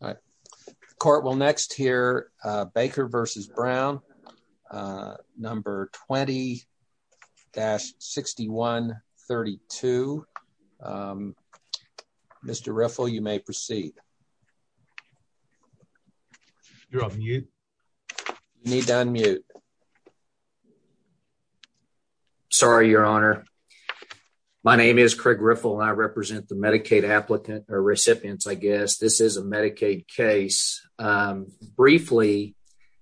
All right. Court will next hear Baker v. Brown, number 20-6132. Mr. Riffle, you may proceed. You're on mute. You need to unmute. Sorry, Your Honor. My name is Craig Riffle, and I represent the Medicaid applicant, recipients, I guess. This is a Medicaid case. Briefly,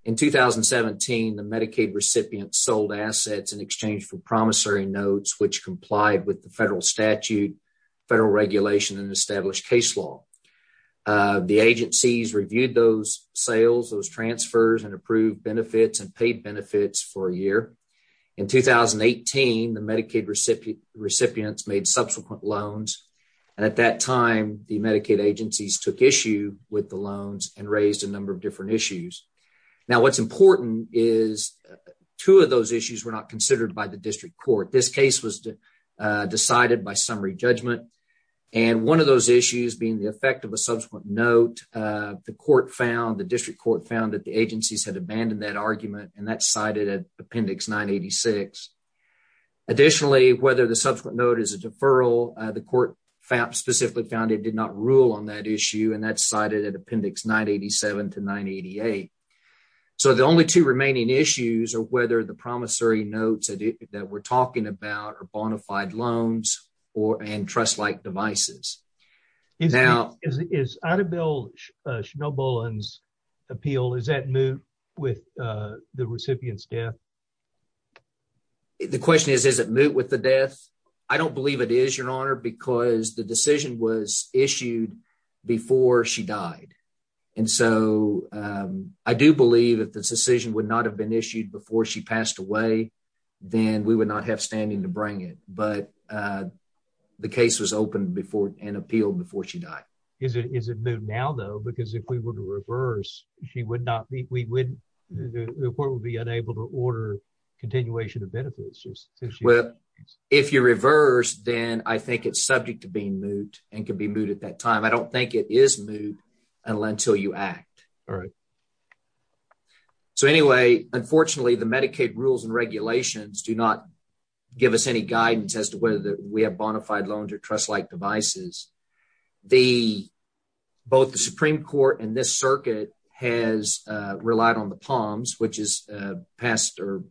in 2017, the Medicaid recipients sold assets in exchange for promissory notes, which complied with the federal statute, federal regulation, and established case law. The agencies reviewed those sales, those transfers, and approved benefits and paid benefits for a year. In 2018, the Medicaid recipients made subsequent loans. At that time, the Medicaid agencies took issue with the loans and raised a number of different issues. Now, what's important is two of those issues were not considered by the district court. This case was decided by summary judgment, and one of those issues being the effect of a subsequent note, the court found, the district court found that the agencies had abandoned that argument, and that's cited in Appendix 986. Additionally, whether the subsequent note is a deferral, the court specifically found it did not rule on that issue, and that's cited in Appendix 987 to 988. So, the only two remaining issues are whether the promissory notes that we're talking about are bona fide loans and trust-like devices. Is Adebayo Shinobolan's appeal, is that moot with the recipient's death? The question is, is it moot with the death? I don't believe it is, Your Honor, because the decision was issued before she died, and so I do believe if the decision would not have been issued before she passed away, then we would not have standing to bring it, but the case was opened before and appealed before she died. Is it moot now, though, because if we were to reverse, she would not be, we wouldn't, the court would be unable to order continuation of benefits? Well, if you reverse, then I think it's subject to being moot and could be moot at that time. I don't think it is moot until you act. All right. So, anyway, unfortunately, the Medicaid rules and regulations do not give us any guidance as to whether we have bona fide loans or trust-like devices. The, both the Supreme Court and this circuit has relied on the POMs, which is passed or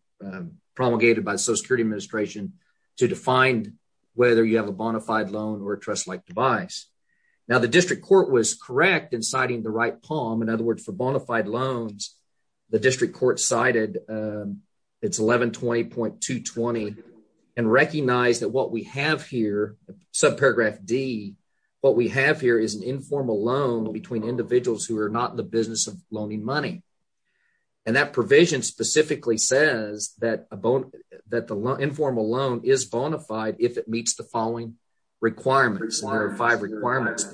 promulgated by the Social Security Administration to define whether you have a bona fide loan or a trust-like device. Now, the district court was correct in citing the right POM. In other words, for bona fide loans, the district court cited, it's 1120.220 and recognized that what we have here, subparagraph D, what we have here is an informal loan between individuals who are not in the business of loaning money. And that provision specifically says that a, that the informal loan is bona fide if it meets the following requirements, there are five requirements.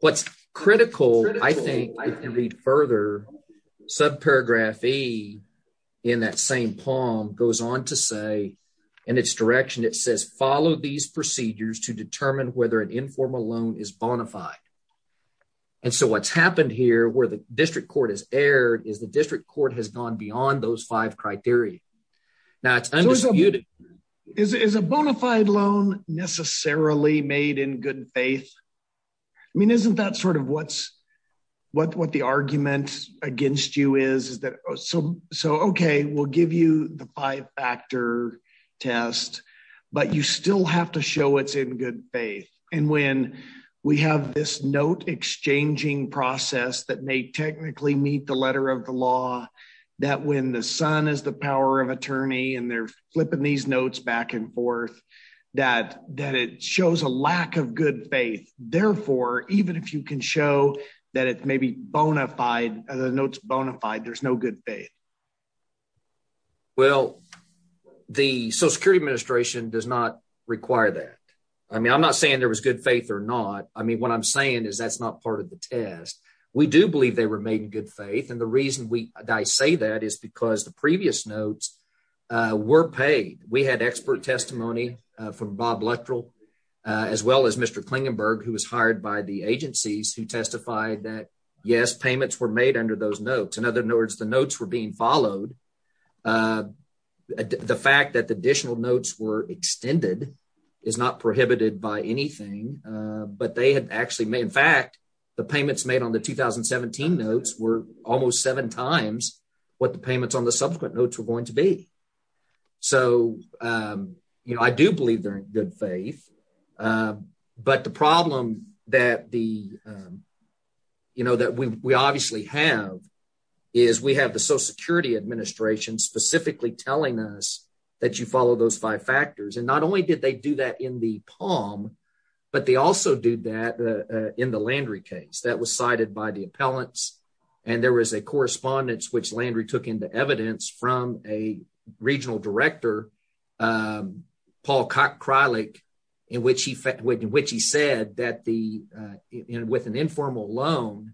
What's critical, I think, if you read further, subparagraph E in that same POM goes on to say, and its direction, it says, follow these procedures to determine whether an informal loan is bona fide. And so what's happened here where the district court has erred is the district court has gone beyond those five criteria. Now, it's undisputed. Is a bona fide loan necessarily made in good faith? I mean, isn't that sort of what's, what, what the argument against you is, so okay, we'll give you the five factor test, but you still have to show it's in good faith. And when we have this note exchanging process that may technically meet the letter of the law, that when the son is the power of attorney, and they're flipping these notes back and forth, that it shows a lack of good faith. Therefore, even if you can show that it may be bona fide, the notes bona fide, there's no good faith. Well, the Social Security Administration does not require that. I mean, I'm not saying there was good faith or not. I mean, what I'm saying is that's not part of the test. We do believe they were made in good faith. And the reason we, I say that is because the previous notes were paid. We had expert testimony from Bob Luttrell, as well as Mr. Klingenberg, who was hired by the agencies who testified that, yes, payments were made under those notes. In other words, the notes were being followed. The fact that the additional notes were extended is not prohibited by anything, but they had actually made, in fact, the payments made on the 2017 notes were almost seven times what the payments on the subsequent notes were going to be. So, you know, I do believe they're in good faith. But the problem that we obviously have is we have the Social Security Administration specifically telling us that you follow those five factors. And not only did they do that in the Palm, but they also do that in the Landry case. That was cited by the appellants. And there was a correspondence which Landry took into evidence from a regional director, Paul Kralik, in which he said that with an informal loan,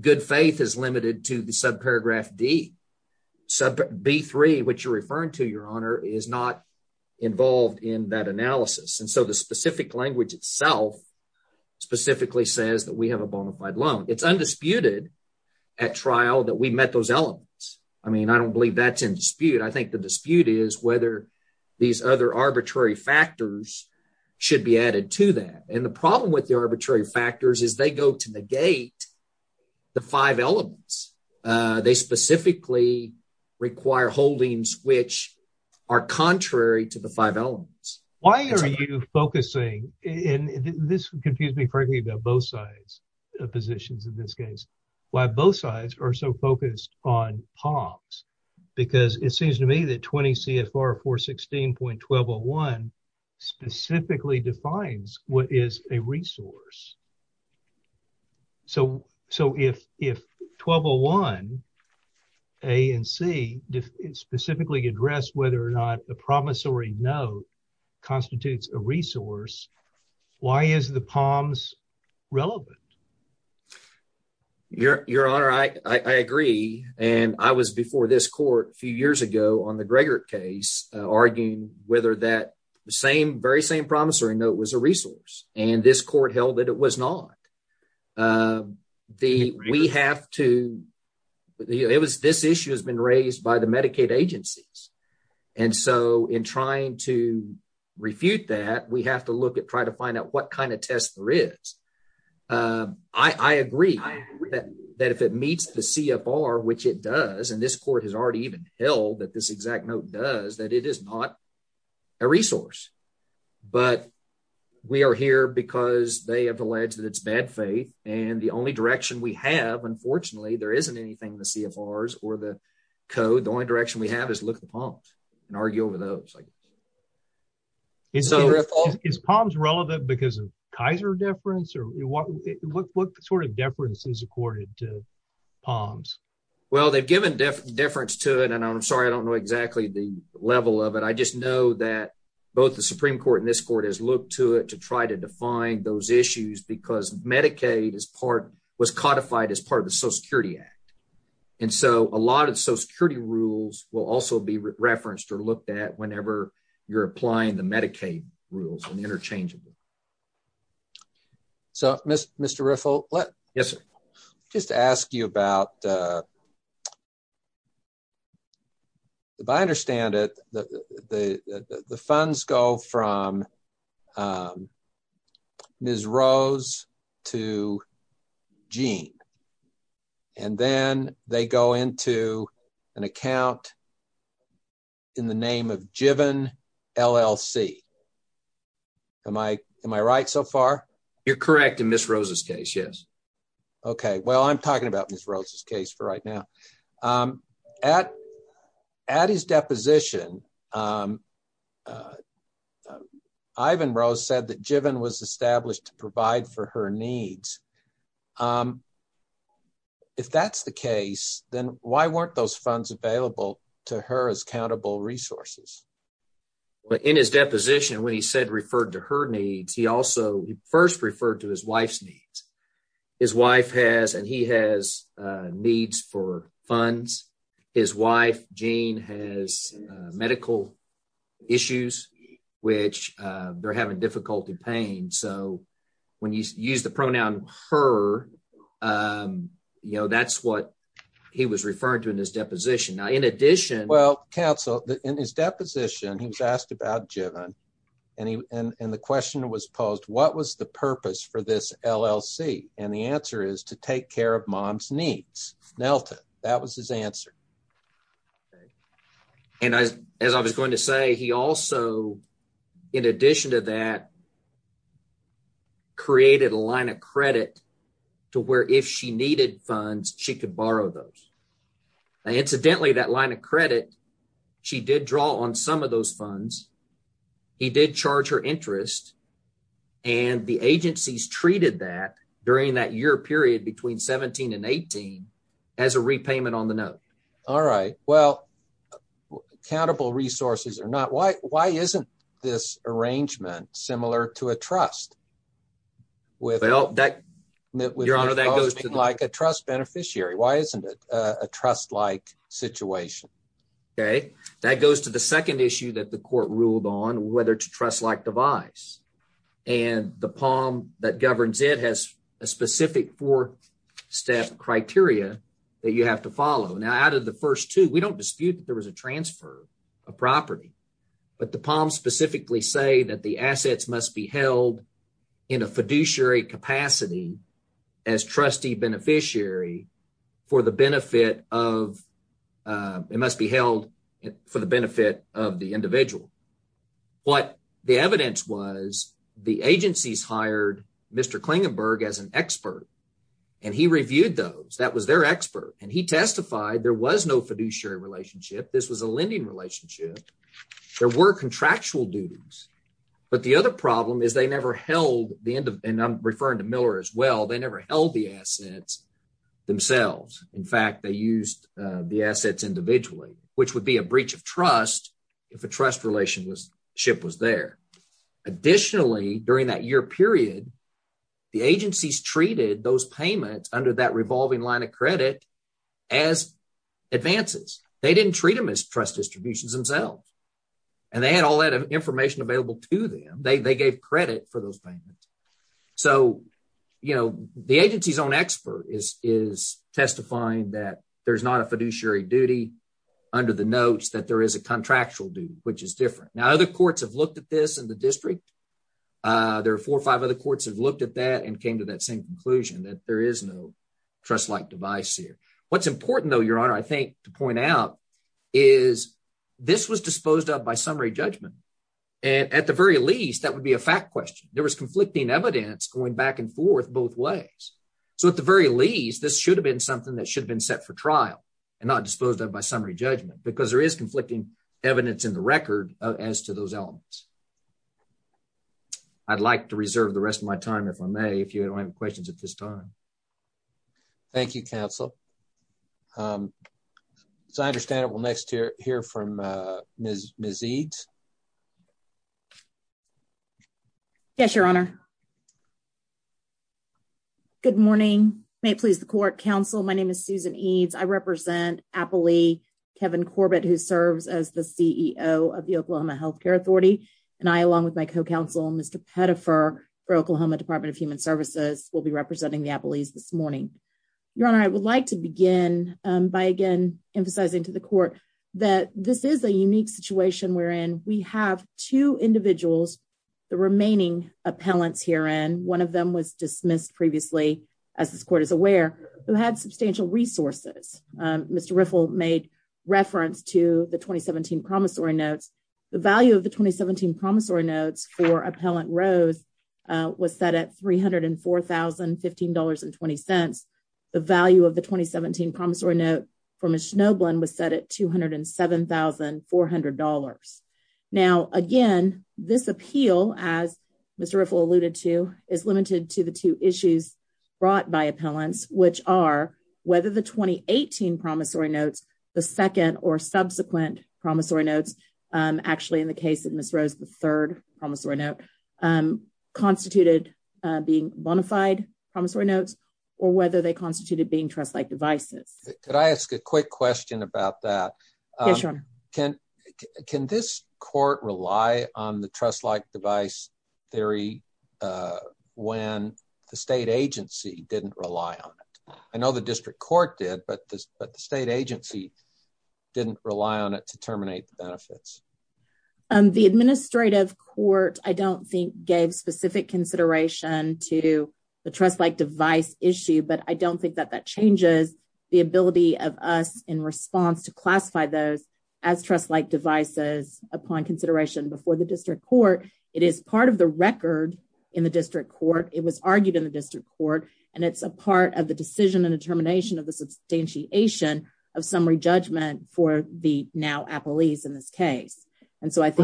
good faith is limited to the subparagraph D. B-3, which you're referring to, Your Honor, is not involved in that analysis. And so the specific language itself specifically says that we have a bona fide loan. It's undisputed at trial that we met those elements. I mean, I don't believe that's in dispute. I think the dispute is whether these other arbitrary factors should be added to that. And the problem with the arbitrary factors is they go to negate the five elements. They specifically require holdings which are contrary to the five elements. Why are you focusing, and this confused me about both sides of positions in this case, why both sides are so focused on Palms? Because it seems to me that 20 CFR 416.1201 specifically defines what is a resource. So if 1201 A and C specifically address whether or not a promissory note constitutes a resource, why is the Palms relevant? Your Honor, I agree. And I was before this court a few years ago on the Gregert case arguing whether that very same promissory note was a resource. And this court held that it was not. This issue has been raised by the Medicaid agencies. And so in trying to find out what kind of test there is, I agree that if it meets the CFR, which it does, and this court has already even held that this exact note does, that it is not a resource. But we are here because they have alleged that it's bad faith. And the only direction we have, unfortunately, there isn't anything in the CFRs or the code. The only direction we have is look at the Palms and argue over those. Is Palms relevant because of Kaiser deference? What sort of deference is accorded to Palms? Well, they've given deference to it. And I'm sorry, I don't know exactly the level of it. I just know that both the Supreme Court and this court has looked to it to try to define those issues because Medicaid was codified as part of Social Security Act. And so a lot of Social Security rules will also be referenced or looked at whenever you're applying the Medicaid rules and interchangeably. So, Mr. Riffle, just to ask you about, if I understand it, the funds go from Ms. Rose to Gene, and then they go into an account in the name of Jivin LLC. Am I right so far? You're correct in Ms. Rose's case, yes. Okay. Well, I'm talking about Ms. Rose's case for right now. At his deposition, Ivan Rose said that Jivin was established to provide for her needs. If that's the case, then why weren't those funds available to her as countable resources? In his deposition, when he said referred to her needs, he first referred to his wife's needs. His wife has and he has needs for funds. His wife, Gene, has medical issues, which they're having difficulty paying. So when you use the pronoun her, that's what he was referring to in his deposition. Now, in addition- Well, counsel, in his deposition, he was asked about Jivin, and the question was posed, what was the purpose for this LLC? And the answer is to take care of mom's needs. Nelton, that was his answer. And as I was going to say, he also, in addition to that, created a line of credit to where if she needed funds, she could borrow those. Incidentally, that line of credit, she did draw on some of those funds. He did charge her interest, and the agencies treated that during that year period between 17 and 18 as a repayment on the note. All right. Well, countable resources or not, why isn't this arrangement similar to a trust? Your Honor, that goes to- Like a trust beneficiary. Why isn't it a trust-like situation? Okay. That goes to the second issue that the court ruled on, whether it's a trust-like device. And the POM that governs it has a specific four-step criteria that you have to follow. Now, out of the first two, we don't dispute that there was a transfer of property, but the POMs specifically say that the assets must be held in a fiduciary capacity as trustee beneficiary for the benefit of- It must be held for the benefit of the individual. What the evidence was, the agencies hired Mr. Klingenberg as an expert, and he reviewed those. That was their expert, and he testified there was no fiduciary relationship. This was a lending relationship. There were contractual duties, but the other problem is the end of- And I'm referring to Miller as well. They never held the assets themselves. In fact, they used the assets individually, which would be a breach of trust if a trust relationship was there. Additionally, during that year period, the agencies treated those payments under that revolving line of credit as advances. They didn't treat them as trust distributions themselves. They had all that information available to them. They gave credit for those payments. The agency's own expert is testifying that there's not a fiduciary duty under the notes, that there is a contractual duty, which is different. Now, other courts have looked at this in the district. There are four or five other courts have looked at that and came to that same conclusion that there is no trust-like device here. What's important though, Your Honor, to point out is this was disposed of by summary judgment. At the very least, that would be a fact question. There was conflicting evidence going back and forth both ways. At the very least, this should have been something that should have been set for trial and not disposed of by summary judgment because there is conflicting evidence in the record as to those elements. I'd like to reserve the rest of my time, if I may, if you don't have any questions at this time. Thank you, counsel. As I understand it, we'll next hear from Ms. Eades. Yes, Your Honor. Good morning. May it please the court. Counsel, my name is Susan Eades. I represent Appley Kevin Corbett, who serves as the CEO of the Oklahoma Healthcare Authority. I, along with my co-counsel, Mr. Pettifer for Oklahoma Department of Human Services, will be representing the Appley's this morning. Your Honor, I would like to begin by again emphasizing to the court that this is a unique situation wherein we have two individuals, the remaining appellants herein, one of them was dismissed previously, as this court is aware, who had substantial resources. Mr. Riffle made reference to the 2017 promissory notes. The value of the 2017 promissory notes for Appellant Rose was set at $304,015.20. The value of the 2017 promissory note for Ms. Schnobland was set at $207,400. Now, again, this appeal, as Mr. Riffle alluded to, is limited to the two issues brought by promissory notes. Actually, in the case of Ms. Rose, the third promissory note constituted being bonafide promissory notes or whether they constituted being trust-like devices. Could I ask a quick question about that? Yes, Your Honor. Can this court rely on the trust-like device theory when the state agency didn't rely on it? I know the district court did, but the state agency didn't rely on it to terminate the benefits. The administrative court, I don't think, gave specific consideration to the trust-like device issue, but I don't think that that changes the ability of us in response to classify those as trust-like devices upon consideration before the district court. It is part of the record in the district court. It was argued in the district court, and it's a part of the decision and determination of the substantiation of summary judgment for the now-appellees in this case. Were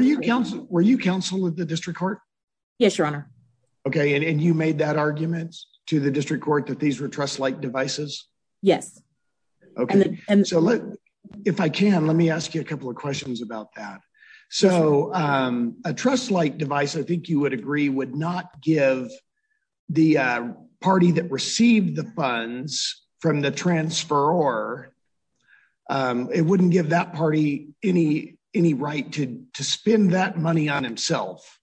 you counsel at the district court? Yes, Your Honor. You made that argument to the district court that these were trust-like devices? Yes. If I can, let me ask you a couple of questions about that. So, a trust-like device, I think you would agree, would not give the party that received the funds from the transferor, it wouldn't give that party any right to spend that money on himself,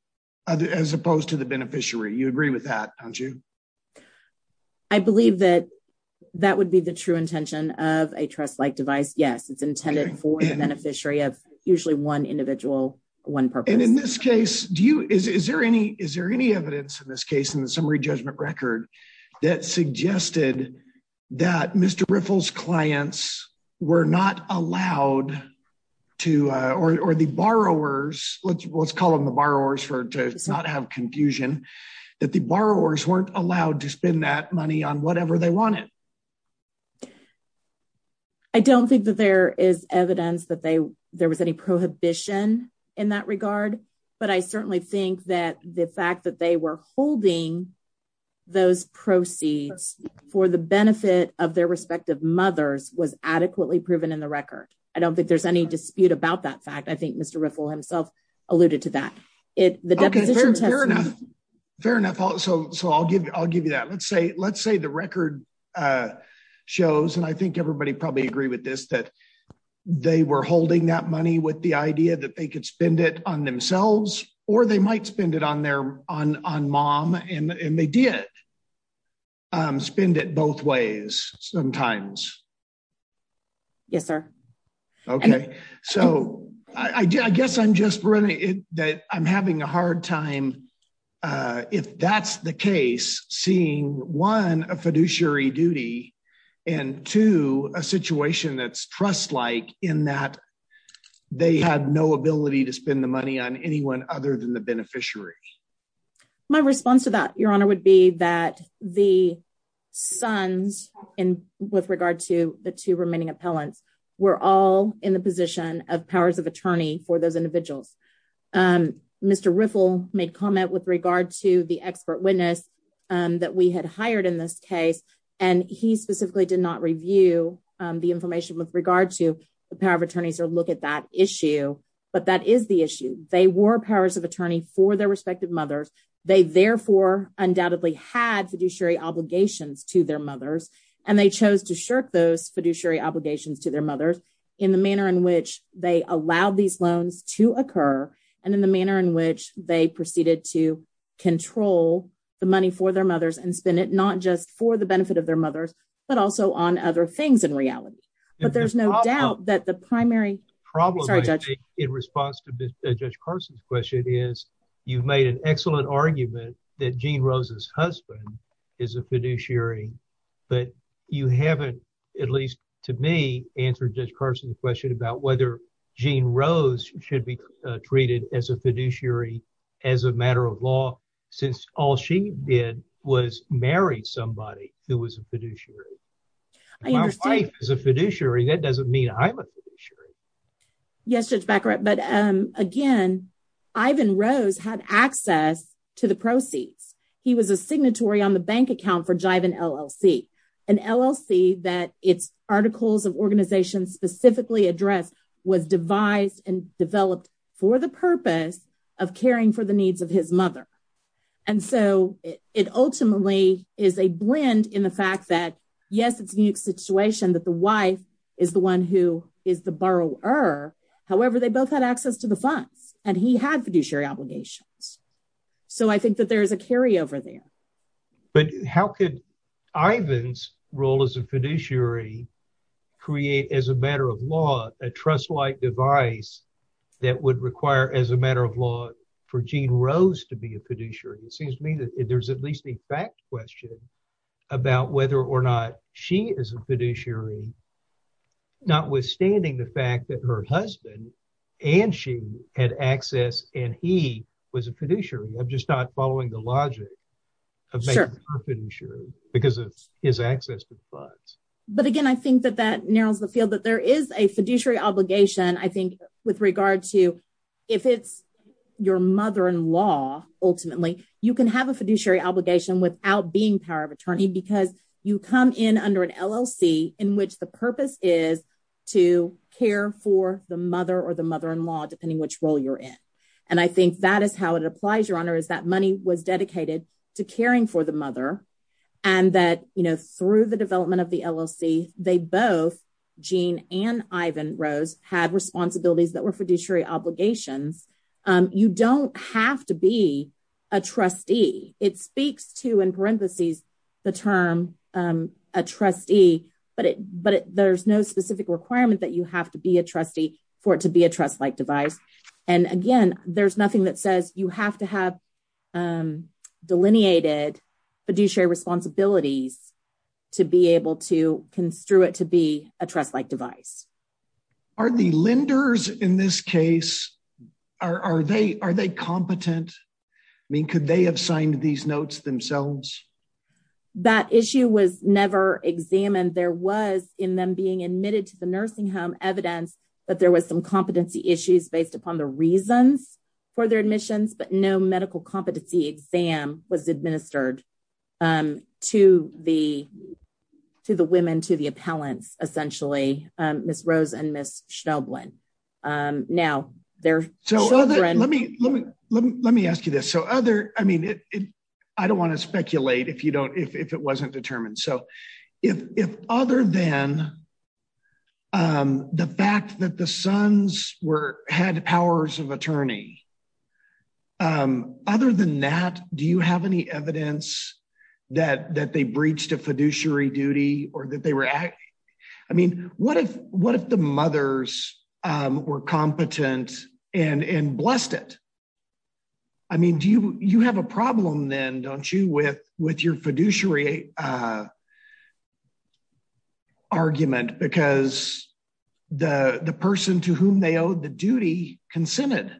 as opposed to the beneficiary. You agree with that, don't you? I believe that that would be the true intention of a trust-like device. Yes, it's intended for the beneficiary of usually one individual, one purpose. And in this case, is there any evidence in this case in the summary judgment record that suggested that Mr. Riffle's clients were not allowed to, or the borrowers, let's call them the borrowers to not have confusion, that the borrowers weren't allowed to spend that money on whatever they wanted? I don't think that there is evidence that there was any prohibition in that regard, but I certainly think that the fact that they were holding those proceeds for the benefit of their respective mothers was adequately proven in the record. I don't think there's any dispute about that fact. I think Mr. Riffle himself alluded to that. Okay, fair enough. So, I'll give you that. Let's say the record shows, and I think everybody probably agree with this, that they were holding that money with the idea that they could spend it on themselves, or they might spend it on mom, and they did spend it both ways sometimes. Yes, sir. Okay. So, I guess I'm just running, that I'm having a hard time, if that's the case, seeing one, a fiduciary duty, and two, a situation that's trust-like in that they had no ability to spend the money on anyone other than the beneficiary. My response to that, Your Honor, would be that the sons, with regard to the two remaining appellants, were all in the position of powers of attorney for those individuals. Mr. Riffle made comment with regard to the expert witness that we had hired in this case, and he specifically did not review the information with regard to the power of attorneys or look at issue, but that is the issue. They were powers of attorney for their respective mothers. They, therefore, undoubtedly had fiduciary obligations to their mothers, and they chose to shirk those fiduciary obligations to their mothers in the manner in which they allowed these loans to occur and in the manner in which they proceeded to control the money for their mothers and spend it not just for the benefit of their mothers, but also on other things in reality. But there's no doubt that the primary problem in response to Judge Carson's question is you've made an excellent argument that Jean Rose's husband is a fiduciary, but you haven't, at least to me, answered Judge Carson's question about whether Jean Rose should be treated as a fiduciary as a matter of law, since all she did was marry somebody who was a fiduciary. My wife is a fiduciary. That doesn't mean I'm a fiduciary. Yes, Judge Baccarat, but again, Ivan Rose had access to the proceeds. He was a signatory on the bank account for Jivin LLC, an LLC that its articles of organization specifically addressed was devised and developed for the purpose of caring for the needs of his mother, and so it ultimately is a blend in the fact that, yes, it's a unique situation that the wife is the one who is the borrower. However, they both had access to the funds, and he had fiduciary obligations, so I think that there is a carryover there. But how could Ivan's role as a fiduciary create as a matter of law a trust-like device that would require, as a matter of law, for Jean Rose to be a fiduciary? It seems to me that there's at least a fact question about whether or not she is a fiduciary, notwithstanding the fact that her husband and she had access, and he was a fiduciary. I'm just not following the logic of making her a fiduciary because of his access to the funds. But again, I think that that narrows the field, that there is a fiduciary obligation, I think, with regard to if it's your mother-in-law, ultimately, you can have a fiduciary obligation without being power of attorney because you come in under an LLC in which the purpose is to care for the mother or the mother-in-law, depending which role you're in. And I think that is how it applies, Your Honor, is that money was dedicated to caring for the mother, and that, through the development of the LLC, they both, Jean and Ivan Rose, had responsibilities that were fiduciary obligations. You don't have to be a trustee. It speaks to, in parentheses, the term a trustee, but there's no specific requirement that you have to be a trustee for it to be a trust-like device. And again, there's nothing that says you have to have to be able to construe it to be a trust-like device. Are the lenders in this case, are they competent? I mean, could they have signed these notes themselves? That issue was never examined. There was, in them being admitted to the nursing home, evidence that there was some competency issues based upon the reasons for their admissions, but no medical competency exam was administered to the women, to the appellants, essentially, Ms. Rose and Ms. Schnelblen. Now, their... So, let me ask you this. So, I don't want to speculate if it wasn't determined. So, if other than the fact that the sons had powers of attorney, other than that, do you have any evidence that they breached a fiduciary duty or that they were... I mean, what if the mothers were competent and blessed it? I mean, you have a problem then, don't you, with your fiduciary argument because the person to whom they owed the duty consented?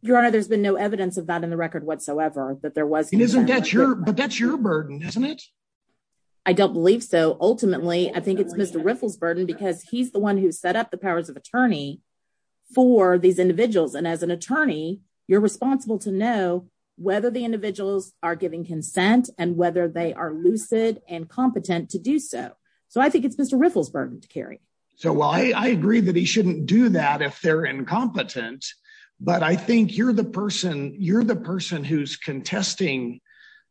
Your Honor, there's been no evidence of that in the record whatsoever, that there was... But that's your burden, isn't it? I don't believe so. Ultimately, I think it's Mr. Riffle's burden because he's the one who set up the powers of attorney for these individuals. And as an attorney, you're responsible to know whether the individuals are giving consent and whether they are lucid and competent to do so. So, I think it's Mr. Riffle's burden to carry. So, while I agree that he shouldn't do that if they're incompetent, but I think you're the person who's contesting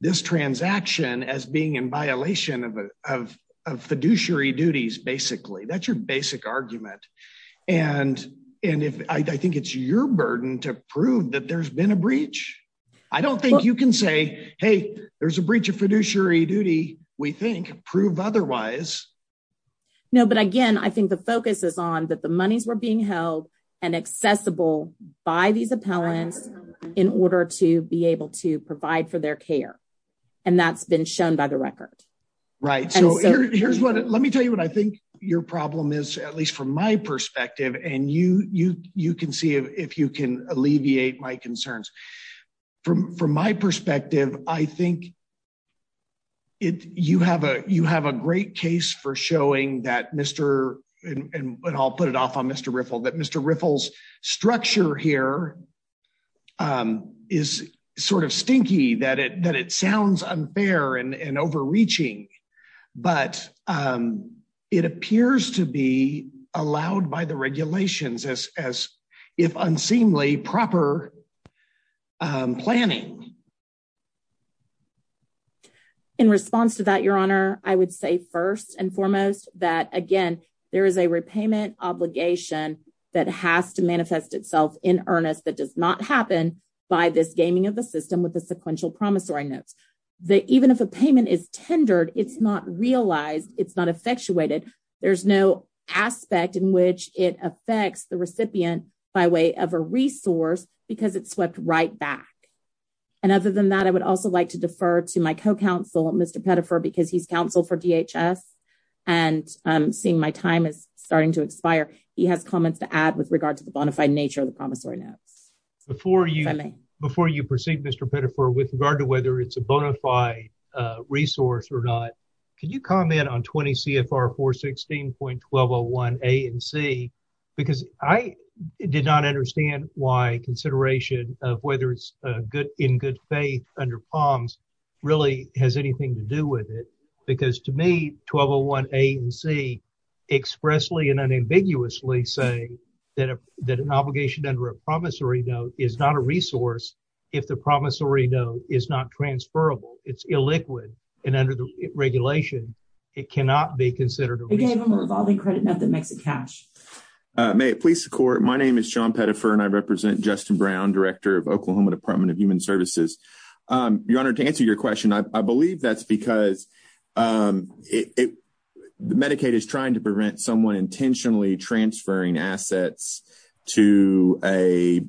this transaction as being in violation of fiduciary duties, basically. That's your basic argument. And I think it's your burden to prove that there's been a breach. I don't think you can say, hey, there's a breach of fiduciary duty, we think, prove otherwise. No, but again, I think the focus is on that the monies were being held and accessible by these appellants in order to be able to provide for their care. And that's been shown by the record. Right. So, let me tell you what I think your problem is, at least from my perspective, and you can see if you can alleviate my concerns. From my perspective, I think you have a great case for showing that Mr., and I'll put it off on Mr. Riffle, that Mr. Riffle's structure here is sort of stinky, that it sounds unfair and overreaching, but it appears to be planning. In response to that, Your Honor, I would say first and foremost, that again, there is a repayment obligation that has to manifest itself in earnest that does not happen by this gaming of the system with the sequential promissory notes. Even if a payment is tendered, it's not realized, it's not effectuated. There's no aspect in which it affects the recipient by way of a resource because it's swept right back. And other than that, I would also like to defer to my co-counsel, Mr. Pettifor, because he's counsel for DHS, and seeing my time is starting to expire, he has comments to add with regard to the bona fide nature of the promissory notes. If I may. Before you proceed, Mr. Pettifor, with regard to whether it's a bona fide resource or not, can you comment on 20 CFR 416.1201 A and C? Because I did not understand why consideration of whether it's in good faith under POMS really has anything to do with it. Because to me, 1201 A and C expressly and unambiguously say that an obligation under a promissory note is not a resource if the promissory note is not transferable. It's illiquid. And under the regulation, it cannot be considered a resource. You gave him a revolving credit note that makes it cash. May it please the court. My name is John Pettifor, and I represent Justin Brown, Director of Oklahoma Department of Human Services. Your Honor, to answer your question, I believe that's because Medicaid is trying to prevent someone intentionally transferring assets to a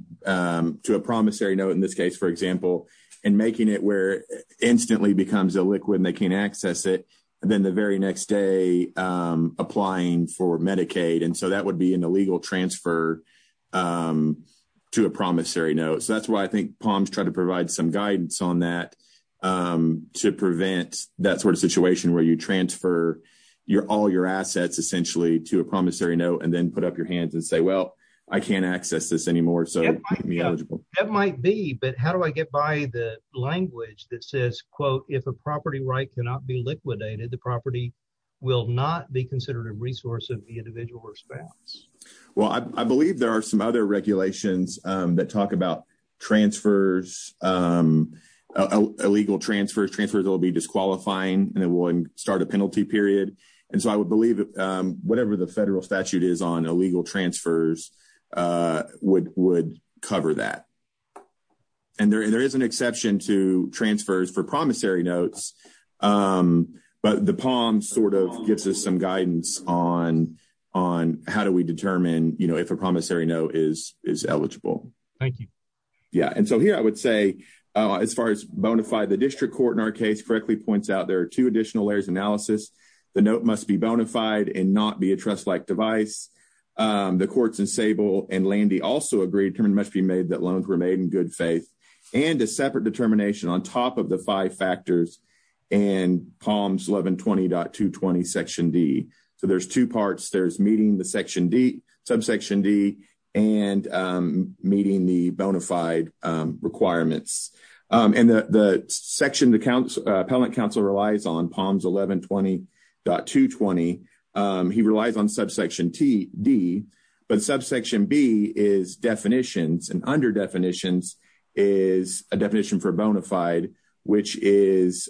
promissory note, in this case, for example, and making it where it instantly becomes illiquid and they can't access it. Then the very next day, applying for Medicaid. And so that would be an illegal transfer to a promissory note. So that's why I think POMS tried to provide some guidance on that to prevent that sort of situation where you transfer your all your assets essentially to a promissory note and then put up your hands and say, well, I can't access this anymore. It might be, but how do I get by the language that says, quote, if a property right cannot be liquidated, the property will not be considered a resource of the individual or spouse? Well, I believe there are some other regulations that talk about transfers, illegal transfers, transfers that will be disqualifying and it will start a penalty period. And so I would believe whatever the federal statute is on illegal transfers would cover that. And there is an exception to transfers for promissory notes, but the POMS sort of gives us some guidance on how do we determine if a promissory note is eligible. Thank you. Yeah. And so here I would say, as far as bonafide, the district court in our case correctly points out there are two additional layers analysis. The note must be device. The courts in Sable and Landy also agreed must be made that loans were made in good faith and a separate determination on top of the five factors and POMS 1120.220 section D. So there's two parts. There's meeting the section D, subsection D and meeting the bonafide requirements. And the section, the appellant counsel relies on POMS 1120.220. He relies on subsection D, but subsection B is definitions and under definitions is a definition for bonafide, which is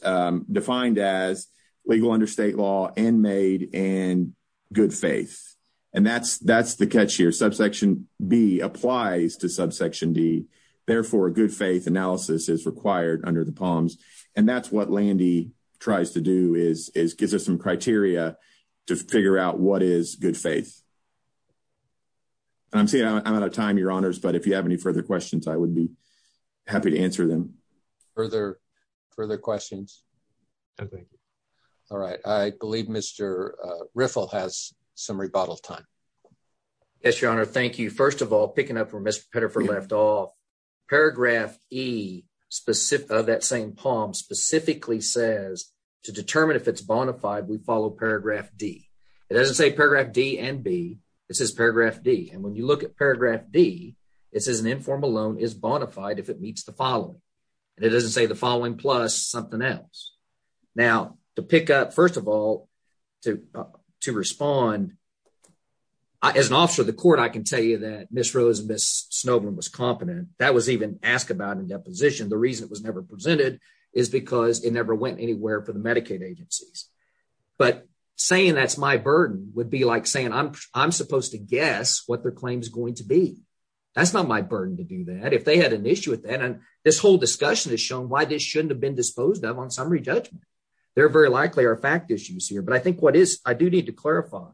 defined as legal under state law and made in good faith. And that's the catch here. B applies to subsection D therefore good faith analysis is required under the POMS. And that's what Landy tries to do is, is gives us some criteria to figure out what is good faith. And I'm saying I'm out of time, your honors, but if you have any further questions, I would be happy to answer them. Further, further questions. Okay. All right. I believe Mr. Riffle has some rebuttal time. Yes, your honor. Thank you. First of all, picking up where Mr. Petterford left off paragraph E specific of that same POMS specifically says to determine if it's bonafide, we follow paragraph D it doesn't say paragraph D and B this is paragraph D. And when you look at paragraph D it says an informal loan is bonafide if it meets the following. And it doesn't say the following plus something else. Now to pick up, first of all, to, to respond as an officer of the court, I can tell you that Ms. Rose and Ms. Snowden was competent. That was even asked about in deposition. The reason it was never presented is because it never went anywhere for the Medicaid agencies. But saying that's my burden would be like saying, I'm, I'm supposed to guess what their claim is going to be. That's not my burden to do that. If they had an issue and this whole discussion has shown why this shouldn't have been disposed of on summary judgment, they're very likely are fact issues here. But I think what is, I do need to clarify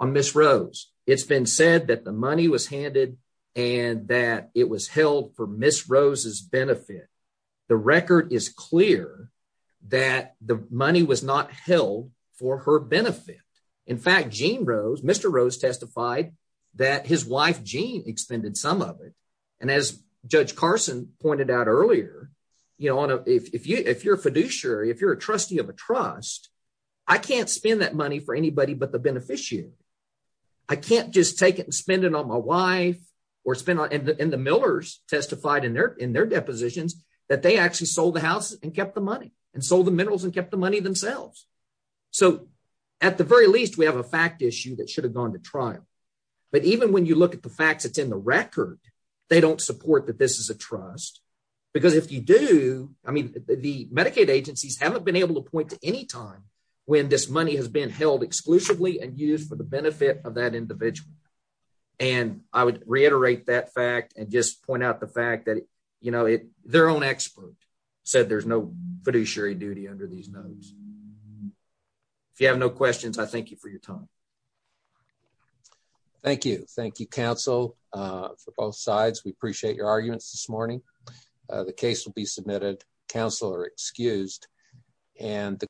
on Ms. Rose. It's been said that the money was handed and that it was held for Ms. Rose's benefit. The record is clear that the money was not held for her benefit. In fact, Jean Rose, Mr. Rose testified that his wife, Jean, expended some of it. And as Judge Carson pointed out earlier, you know, on a, if you, if you're a fiduciary, if you're a trustee of a trust, I can't spend that money for anybody, but the beneficiary. I can't just take it and spend it on my wife or spend on, and the Millers testified in their, in their depositions that they actually sold the house and kept the money and sold the minerals and kept the money themselves. So at the very least, we have a fact issue that should have gone to trial. But even when you look at the facts, it's in the record, they don't support that this is a trust because if you do, I mean, the Medicaid agencies haven't been able to point to any time when this money has been held exclusively and used for the benefit of that individual. And I would reiterate that fact and just point out the fact that, you know, their own expert said there's no fiduciary duty under these notes. If you have no questions, I thank you for your time. Thank you. Thank you, counsel, for both sides. We appreciate your arguments this morning. The case will be submitted. Counsel are excused.